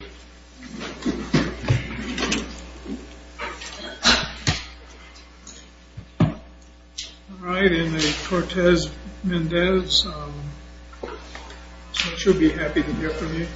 All right, and a Cortez-Mendez, she'll be happy to hear from you.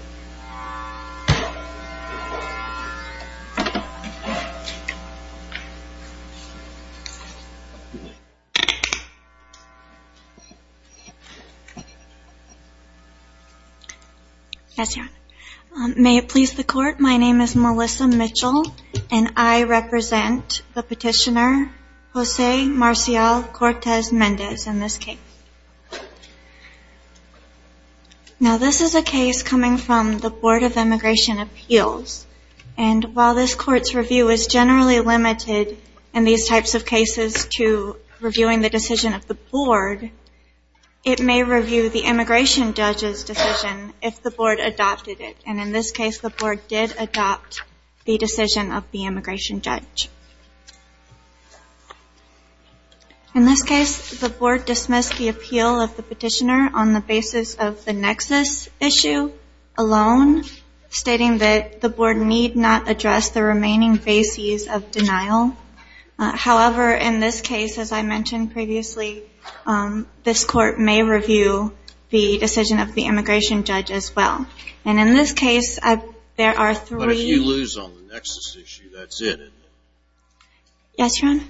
May it please the court, my name is Melissa Mitchell, and I represent the petitioner, Jose Marcial Cortez-Mendez in this case. Now this is a case coming from the Board of Immigration Appeals, and while this court's review is generally limited in these types of cases to reviewing the decision of the board, it may review the immigration judge's decision if the board adopted it. And in this case, the board did adopt the decision of the immigration judge. In this case, the board dismissed the appeal of the petitioner on the basis of the nexus issue alone, stating that the board need not address the remaining bases of denial. However, in this case, as I mentioned previously, this court may review the decision of the immigration judge as well. And in this case, there are three- Yes, Your Honor?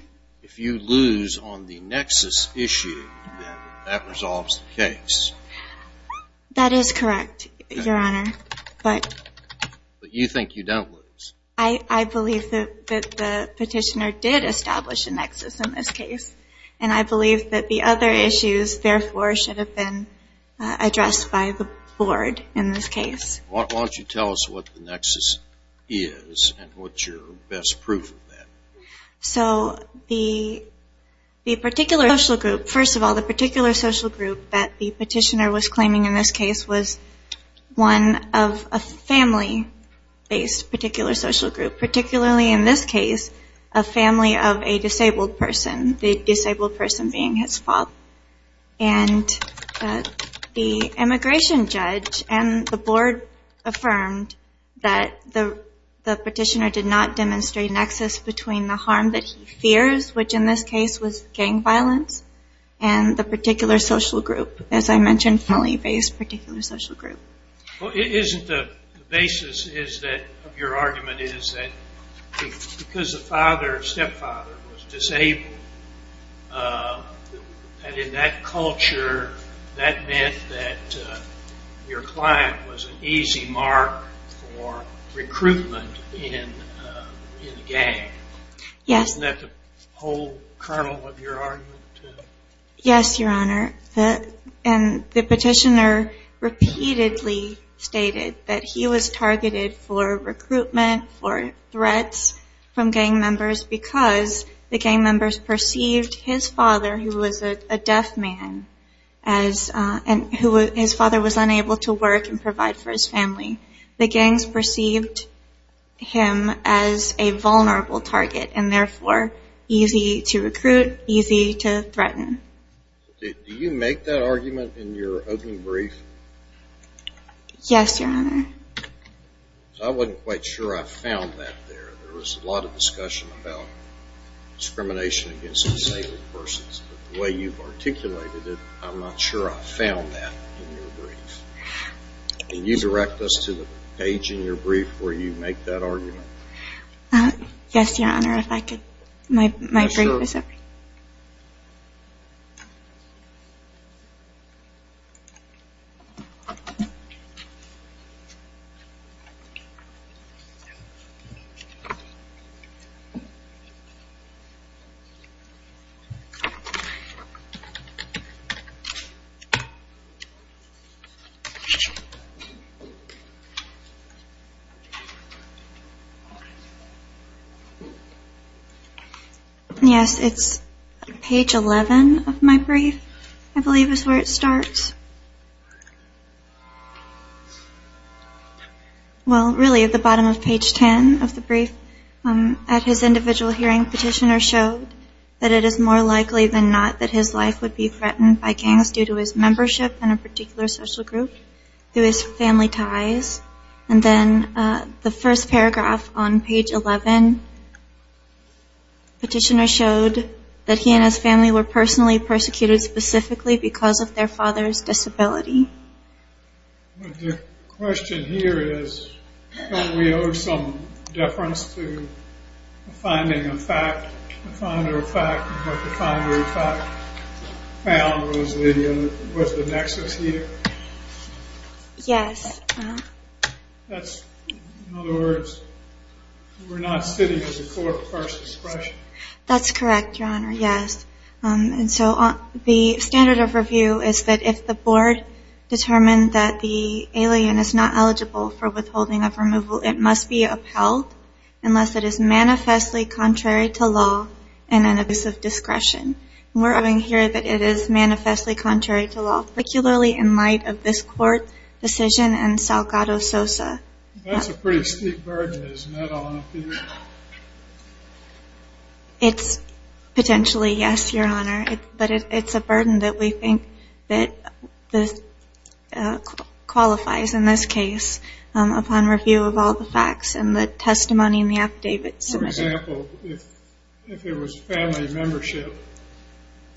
If you lose on the nexus issue, then that resolves the case. That is correct, Your Honor. But you think you don't lose? I believe that the petitioner did establish a nexus in this case, and I believe that the other issues, therefore, should have been addressed by the board in this case. Why don't you tell us what the nexus is, and what's your best proof of that? So, the particular social group, first of all, the particular social group that the petitioner was claiming in this case was one of a family-based particular social group, particularly in this case, a family of a disabled person, the disabled person being his father. And the immigration judge and the board affirmed that the petitioner did not demonstrate a nexus between the harm that he fears, which in this case was gang violence, and the particular social group, as I mentioned, family-based particular social group. Well, isn't the basis of your argument is that because the father or stepfather was disabled, and in that culture, that meant that your client was an easy mark for recruitment in the gang? Yes. Isn't that the whole kernel of your argument? Yes, Your Honor. And the petitioner repeatedly stated that he was targeted for recruitment, for threats from gang members, because the gang members perceived his father, who was a deaf man, and his father was unable to work and provide for his family. The gangs perceived him as a vulnerable target, and therefore easy to recruit, easy to threaten. Do you make that argument in your opening brief? Yes, Your Honor. I wasn't quite sure I found that there. There was a lot of discussion about discrimination against disabled persons, but the way you've articulated it, I'm not sure I found that in your brief. Can you direct us to the page in your brief where you make that argument? Yes, Your Honor. I'm not sure if my brief is up. Yes, it's page 11 of my brief, I believe is where it starts. Well, really at the bottom of page 10 of the brief, at his individual hearing, petitioner showed that it is more likely than not that his life would be threatened by gangs due to his membership in a particular social group, through his family ties. And then the first paragraph on page 11, petitioner showed that he and his family were personally persecuted specifically because of their father's disability. The question here is, don't we owe some deference to finding a fact, the founder of fact, and what the founder of fact found was the nexus here? Yes. That's, in other words, we're not sitting at the court of first discretion. That's correct, Your Honor, yes. And so the standard of review is that if the board determined that the alien is not eligible for withholding of removal, it must be upheld unless it is manifestly contrary to law and an abuse of discretion. We're arguing here that it is manifestly contrary to law, particularly in light of this court decision and Salgado-Sosa. That's a pretty steep burden, isn't it, on appeal? It's potentially, yes, Your Honor, but it's a burden that we think qualifies in this case upon review of all the facts and the testimony in the affidavit submission. For example, if it was family membership,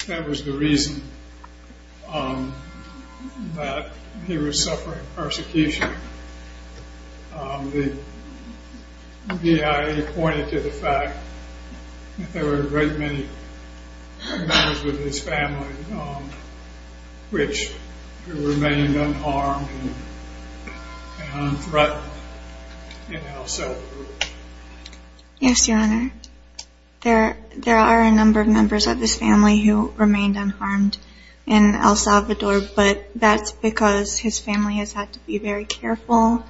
that was the reason that he was suffering persecution. The BIA pointed to the fact that there were a great many members of his family which remained unharmed and unthreatened in El Salvador. Yes, Your Honor, there are a number of members of his family who remained unharmed in El Salvador, but that's because his family has had to be very careful.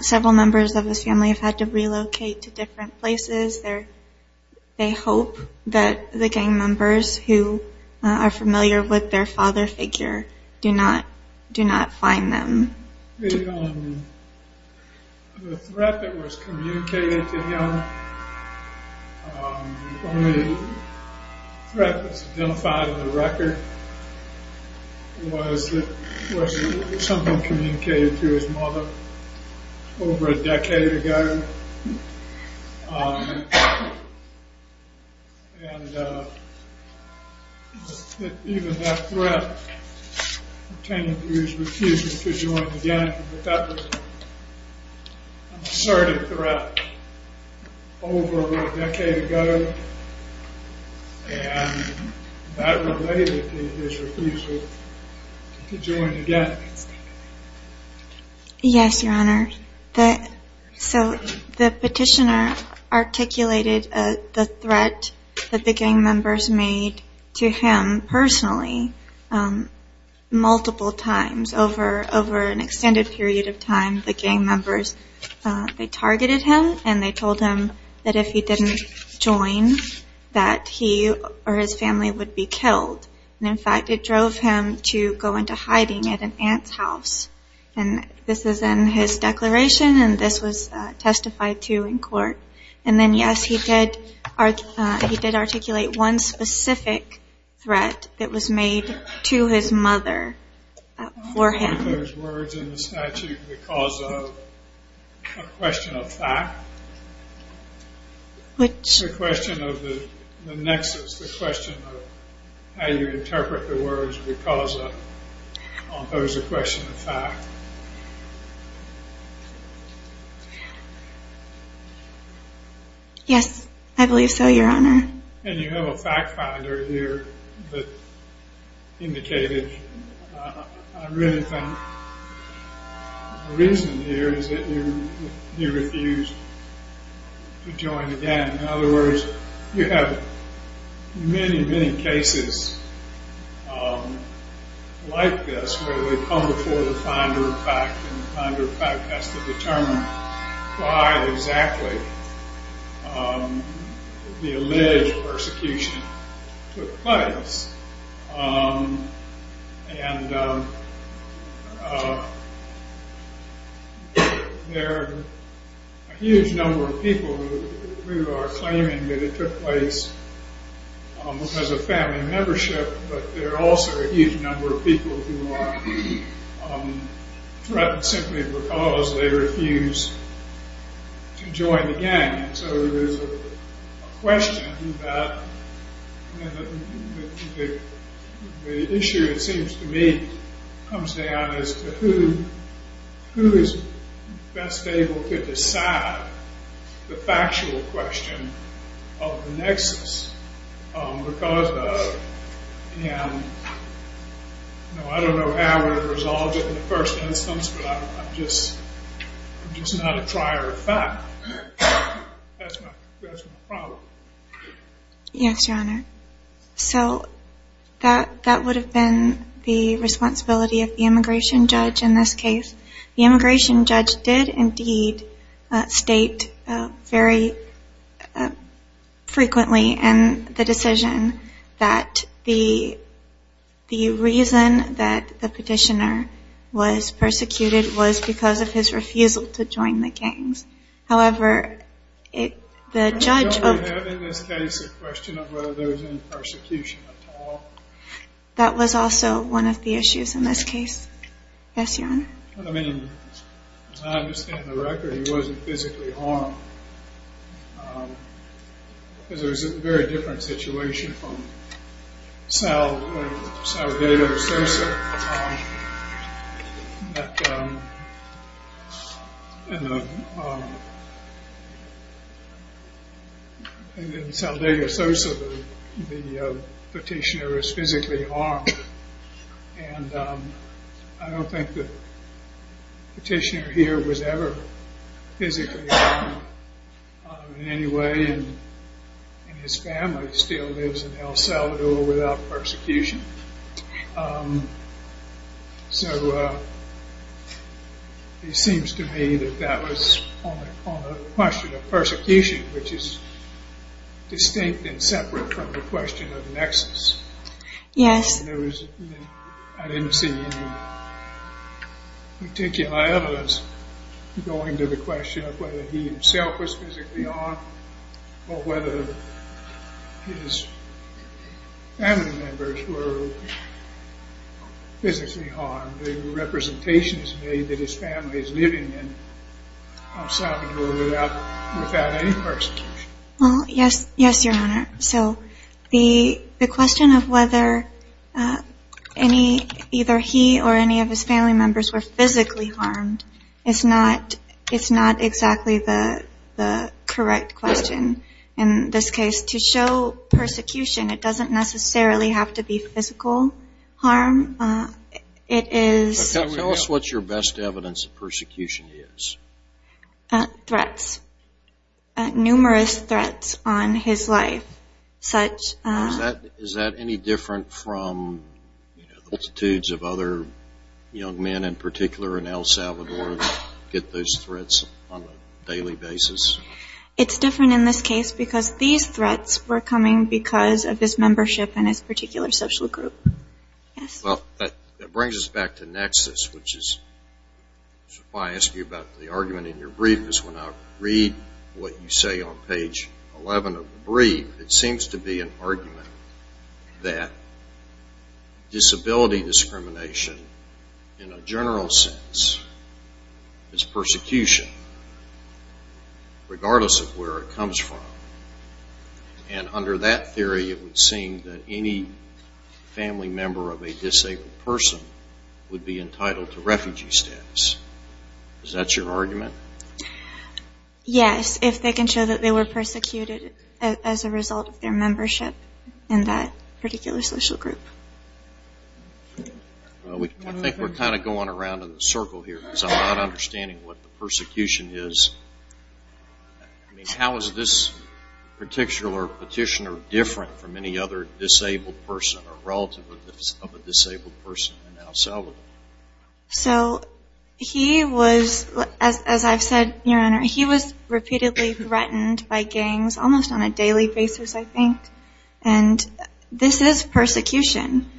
Several members of his family have had to relocate to different places. They hope that the gang members who are familiar with their father figure do not find them. The threat that was communicated to him, the only threat that's identified in the record, was something communicated to his mother over a decade ago. And even that threat pertaining to his refusal to join the gang, that was an assertive threat over a decade ago, and that related to his refusal to join the gang. Yes, Your Honor. So the petitioner articulated the threat that the gang members made to him personally multiple times over an extended period of time. The gang members, they targeted him and they told him that if he didn't join, that he or his family would be killed. And, in fact, it drove him to go into hiding at an aunt's house. And this is in his declaration and this was testified to in court. And then, yes, he did articulate one specific threat that was made to his mother for him. Were those words in the statute the cause of a question of fact? Which? The question of the nexus, the question of how you interpret the words because of, or was it a question of fact? Yes, I believe so, Your Honor. And you have a fact finder here that indicated. I really think the reason here is that he refused to join the gang. In other words, you have many, many cases like this where they come before the finder of fact and the finder of fact has to determine why exactly the alleged persecution took place. And there are a huge number of people who are claiming that it took place because of family membership, but there are also a huge number of people who are threatened simply because they refused to join the gang. So there's a question that the issue, it seems to me, comes down as to who is best able to decide the factual question of the nexus because of, and I don't know how it was resolved in the first instance, but I'm just not a trier of fact. That's my problem. Yes, Your Honor. So that would have been the responsibility of the immigration judge in this case. The immigration judge did indeed state very frequently in the decision that the reason that the petitioner was persecuted was because of his refusal to join the gangs. However, the judge... I don't have in this case a question of whether there was any persecution at all. That was also one of the issues in this case. Yes, Your Honor. I mean, as I understand the record, he wasn't physically harmed. It was a very different situation from Sal Dago Sosa. In Sal Dago Sosa, the petitioner is physically harmed, and I don't think the petitioner here was ever physically harmed in any way, and his family still lives in El Salvador without persecution. So it seems to me that that was on the question of persecution, which is distinct and separate from the question of nexus. Yes. I didn't see any particular evidence going to the question of whether he himself was physically harmed or whether his family members were physically harmed. The representation is made that his family is living in El Salvador without any persecution. Well, yes, Your Honor. So the question of whether either he or any of his family members were physically harmed is not exactly the correct question in this case. To show persecution, it doesn't necessarily have to be physical harm. It is... Tell us what your best evidence of persecution is. Threats. Numerous threats on his life, such as... Is that any different from the attitudes of other young men in particular in El Salvador that get those threats on a daily basis? It's different in this case because these threats were coming because of his membership in this particular social group. Well, that brings us back to nexus, which is why I asked you about the argument in your brief because when I read what you say on page 11 of the brief, it seems to be an argument that disability discrimination in a general sense is persecution, regardless of where it comes from. And under that theory, it would seem that any family member of a disabled person would be entitled to refugee status. Is that your argument? Yes, if they can show that they were persecuted as a result of their membership in that particular social group. I think we're kind of going around in a circle here because I'm not understanding what the persecution is. I mean, how is this particular petitioner different from any other disabled person or relative of a disabled person in El Salvador? So he was, as I've said, Your Honor, he was repeatedly threatened by gangs almost on a daily basis, I think. And this is persecution.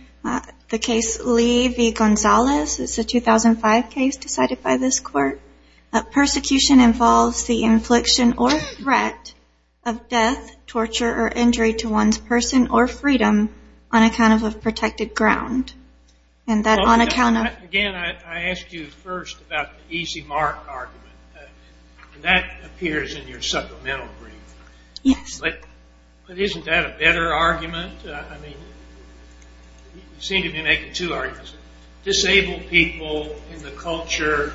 The case Lee v. Gonzalez is a 2005 case decided by this court. Persecution involves the infliction or threat of death, torture, or injury to one's person or freedom on account of a protected ground. Again, I asked you first about the easy mark argument. That appears in your supplemental brief. Yes. But isn't that a better argument? I mean, you seem to be making two arguments. Disabled people in the culture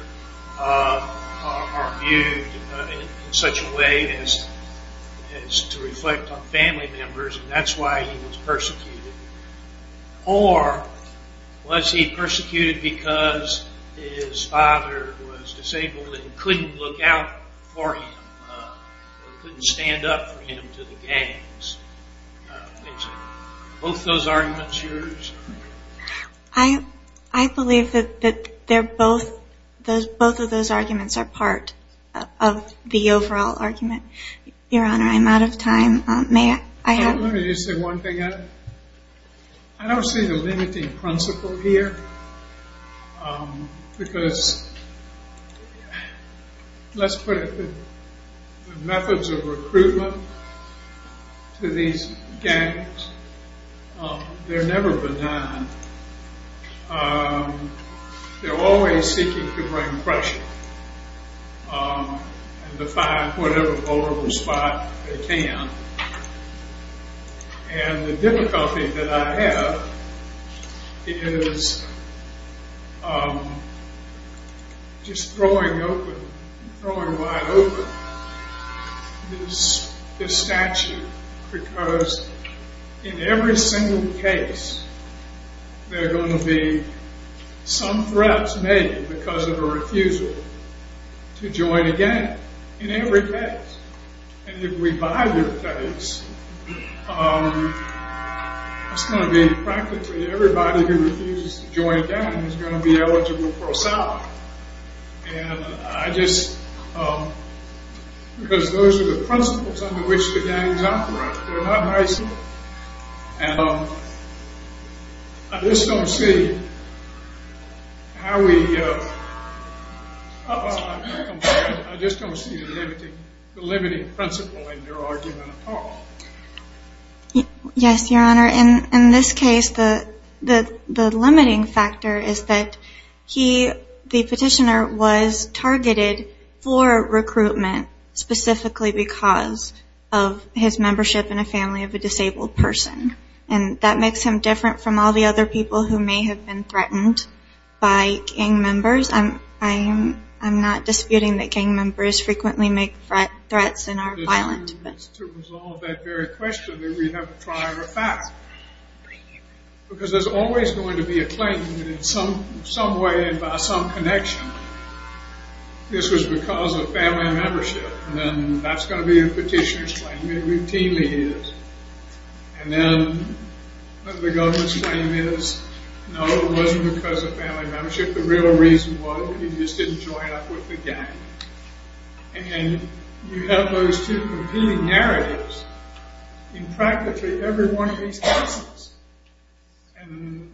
are viewed in such a way as to reflect on family members. And that's why he was persecuted. Or was he persecuted because his father was disabled and couldn't look out for him or couldn't stand up for him to the gangs? Are both those arguments yours? I believe that both of those arguments are part of the overall argument. Your Honor, I'm out of time. Let me just say one thing. I don't see the limiting principle here. Because let's put it this way. The methods of recruitment to these gangs, they're never benign. They're always seeking to bring pressure and define whatever vulnerable spot they can. And the difficulty that I have is just throwing wide open this statute. Because in every single case, there are going to be some threats made because of a refusal to join a gang. In every case. And if we buy their case, it's going to be practically everybody who refuses to join a gang is going to be eligible for asylum. And I just... Because those are the principles under which the gangs operate. They're not nice. And I just don't see how we... I just don't see the limiting principle in your argument at all. Yes, Your Honor. In this case, the limiting factor is that he, the petitioner, was targeted for recruitment specifically because of his membership in a family of a disabled person. And that makes him different from all the other people who may have been threatened by gang members. I'm not disputing that gang members frequently make threats and are violent. To resolve that very question, we have to try a fact. Because there's always going to be a claim that in some way and by some connection, this was because of family membership. And that's going to be a petitioner's claim. It routinely is. And then the government's claim is, no, it wasn't because of family membership. The real reason was he just didn't join up with the gang. And you have those two competing narratives in practically every one of these cases. And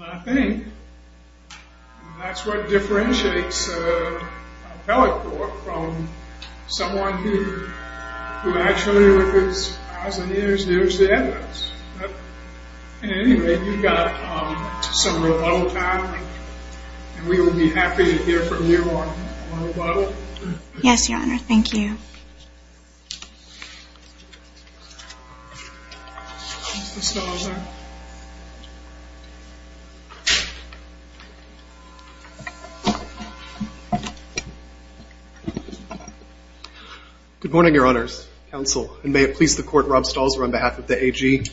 I think that's what differentiates a telecourt from someone who actually, with his eyes and ears, knows the evidence. At any rate, you've got some rebuttal time. And we will be happy to hear from you on rebuttal. Yes, Your Honor. Thank you. Mr. Stalzer. Good morning, Your Honors, Counsel, and may it please the Court, Rob Stalzer on behalf of the AG.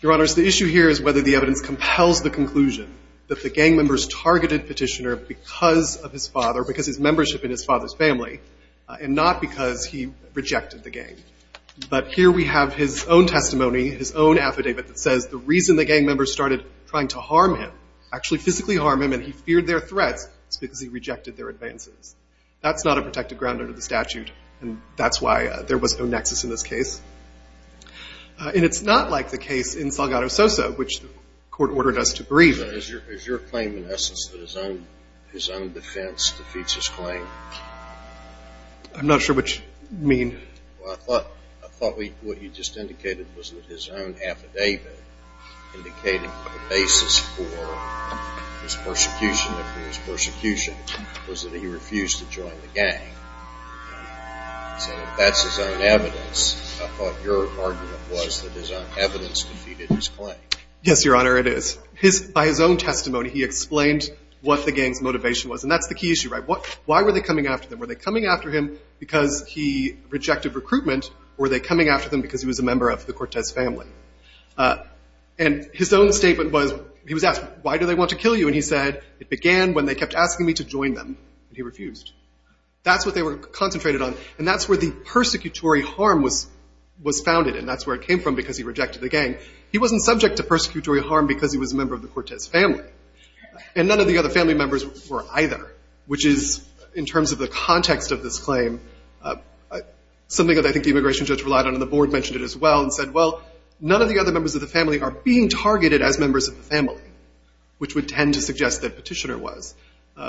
Your Honors, the issue here is whether the evidence compels the conclusion that the gang members targeted Petitioner because of his father, because of his membership in his father's family, and not because he rejected the gang. But here we have his own testimony, his own affidavit that says the reason the gang members started trying to harm him, actually physically harm him and he feared their threats, is because he rejected their advances. That's not a protected ground under the statute, and that's why there was no nexus in this case. And it's not like the case in Salgado Sosa, which the Court ordered us to believe. Mr. Stalzer, is your claim, in essence, that his own defense defeats his claim? I'm not sure what you mean. Well, I thought what you just indicated was that his own affidavit indicated the basis for his persecution, for his persecution was that he refused to join the gang. So if that's his own evidence, I thought your argument was that his own evidence defeated his claim. Yes, Your Honor, it is. But by his own testimony, he explained what the gang's motivation was. And that's the key issue, right? Why were they coming after him? Were they coming after him because he rejected recruitment, or were they coming after him because he was a member of the Cortez family? And his own statement was, he was asked, why do they want to kill you? And he said, it began when they kept asking me to join them, and he refused. That's what they were concentrated on, and that's where the persecutory harm was founded, and that's where it came from because he rejected the gang. He wasn't subject to persecutory harm because he was a member of the Cortez family, and none of the other family members were either, which is, in terms of the context of this claim, something that I think the immigration judge relied on, and the board mentioned it as well, and said, well, none of the other members of the family are being targeted as members of the family, which would tend to suggest that Petitioner was.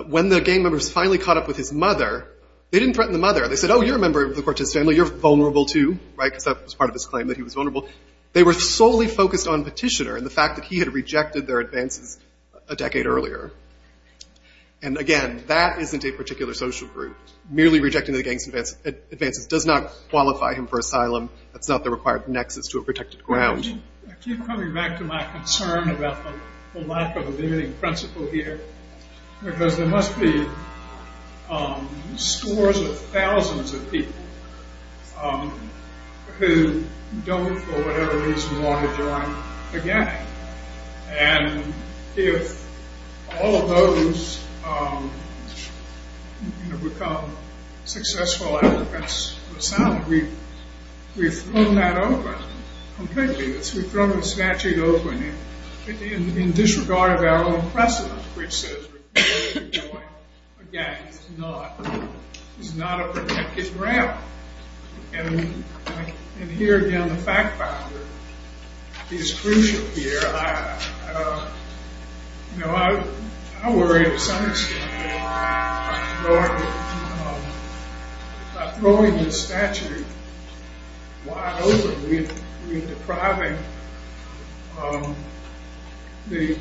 When the gang members finally caught up with his mother, they didn't threaten the mother. They said, oh, you're a member of the Cortez family. You're vulnerable, too, right, because that was part of his claim that he was vulnerable. They were solely focused on Petitioner and the fact that he had rejected their advances a decade earlier. And, again, that isn't a particular social group. Merely rejecting the gang's advances does not qualify him for asylum. That's not the required nexus to a protected ground. I keep coming back to my concern about the lack of a limiting principle here because there must be scores of thousands of people who don't, for whatever reason, want to join the gang. And if all of those become successful advocates of asylum, we've thrown that open completely. We've thrown the statute open in disregard of our own precedent, which says we're going to join a gang. It's not a protected ground. And here, again, the fact-finder is crucial here. You know, I worry at some extent about throwing the statute wide open. We're depriving many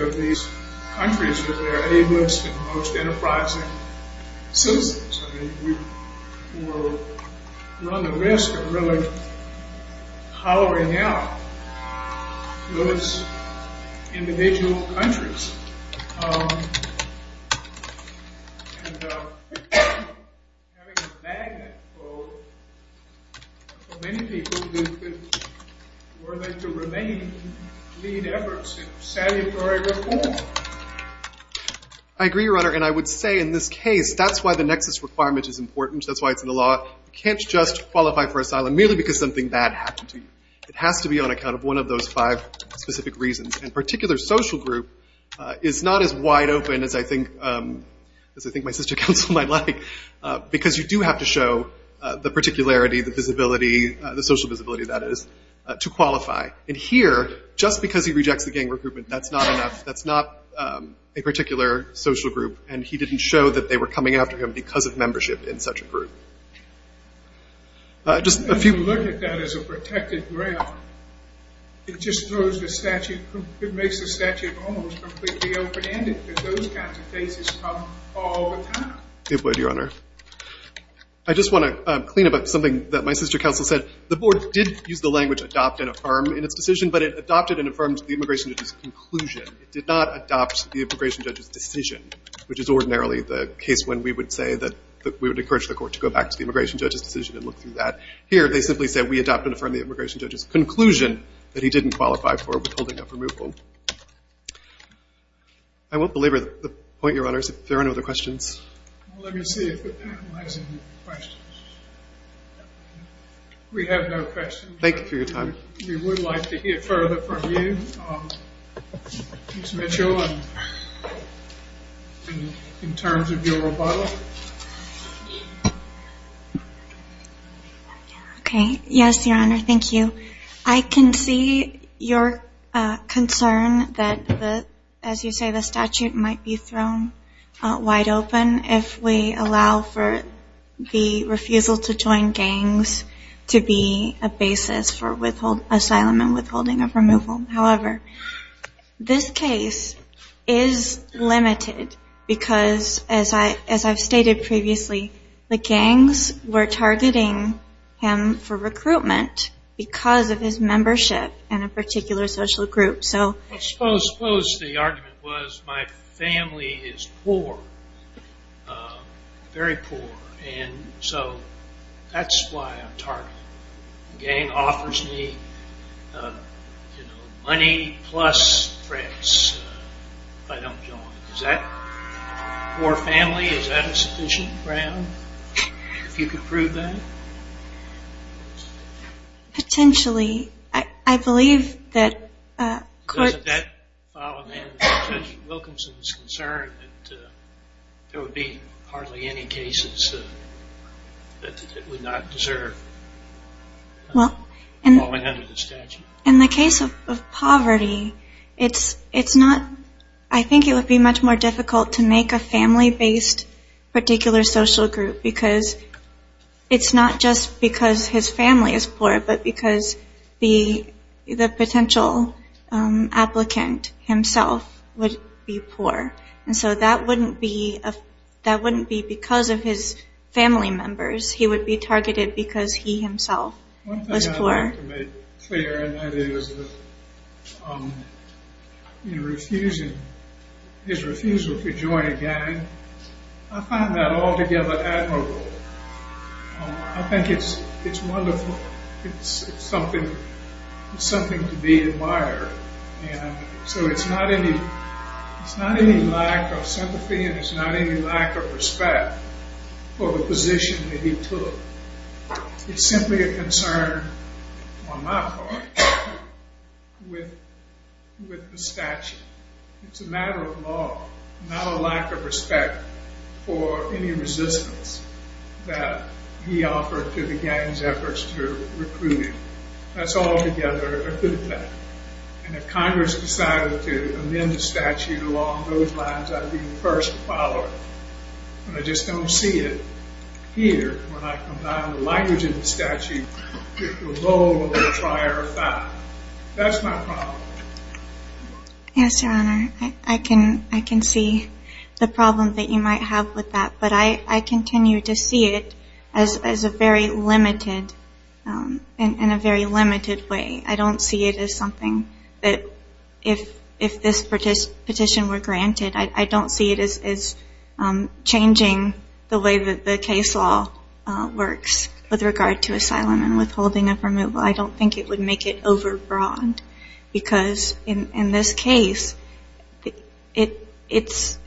of these countries of their ablest and most enterprising citizens. I mean, we run the risk of really hollowing out those individual countries. And having a magnet for many people who are willing to remain lead efforts in salutary reform. I agree, Your Honor, and I would say in this case, that's why the nexus requirement is important. That's why it's in the law. You can't just qualify for asylum merely because something bad happened to you. It has to be on account of one of those five specific reasons. And a particular social group is not as wide open as I think my sister counsel might like, because you do have to show the particularity, the social visibility, that is, to qualify. And here, just because he rejects the gang recruitment, that's not enough. That's not a particular social group. And he didn't show that they were coming after him because of membership in such a group. If you look at that as a protected ground, it just throws the statute, it makes the statute almost completely open-ended, because those kinds of cases come all the time. It would, Your Honor. I just want to clean up something that my sister counsel said. The board did use the language adopt and affirm in its decision, but it adopted and affirmed the immigration judge's conclusion. It did not adopt the immigration judge's decision, which is ordinarily the case when we would say that we would encourage the court to go back to the immigration judge's decision and look through that. Here, they simply said, we adopt and affirm the immigration judge's conclusion that he didn't qualify for withholding of removal. I won't belabor the point, Your Honors. If there are any other questions. Let me see if we're analyzing the questions. We have no questions. Thank you for your time. We would like to hear further from you, Mr. Mitchell. In terms of your rebuttal. Okay. Yes, Your Honor. Thank you. I can see your concern that, as you say, the statute might be thrown wide open if we allow for the refusal to join gangs to be a basis for asylum and withholding of removal. However, this case is limited because, as I've stated previously, the gangs were targeting him for recruitment because of his membership in a particular social group. Suppose the argument was my family is poor, very poor, and so that's why I'm targeted. The gang offers me money plus threats if I don't join. Is that poor family? Is that a sufficient ground? If you could prove that. Potentially. Potentially. I believe that court. Doesn't that fall in the hands of Judge Wilkinson's concern that there would be hardly any cases that would not deserve falling under the statute? In the case of poverty, it's not. I think it would be much more difficult to make a family-based particular social group because it's not just because his family is poor, but because the potential applicant himself would be poor. And so that wouldn't be because of his family members. He would be targeted because he himself was poor. One thing I'd like to make clear, and that is his refusal to join a gang, I find that altogether admirable. I think it's wonderful. It's something to be admired. And so it's not any lack of sympathy, and it's not any lack of respect for the position that he took. It's simply a concern on my part with the statute. It's a matter of law, not a lack of respect for any resistance that he offered to the gang's efforts to recruit him. That's altogether a good thing. And if Congress decided to amend the statute along those lines, I'd be the first to follow it. And I just don't see it here when I combine the language in the statute with the role of a trier of five. That's my problem. Yes, Your Honor. I can see the problem that you might have with that, but I continue to see it in a very limited way. I don't see it as something that if this petition were granted, I don't see it as changing the way that the case law works with regard to asylum and withholding of removal. I don't think it would make it overbroad, because in this case, it's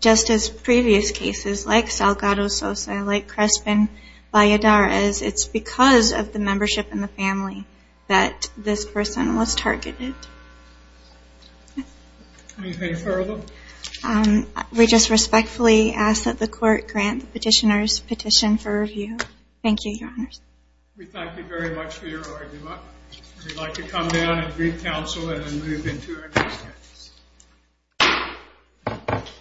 just as previous cases like Salgado, Sosa, like Crespin, Valladares, it's because of the membership in the family that this person was targeted. Anything further? We just respectfully ask that the Court grant the petitioner's petition for review. Thank you, Your Honors. We thank you very much for your argument. We'd like to come down and brief counsel and then move into our next witness.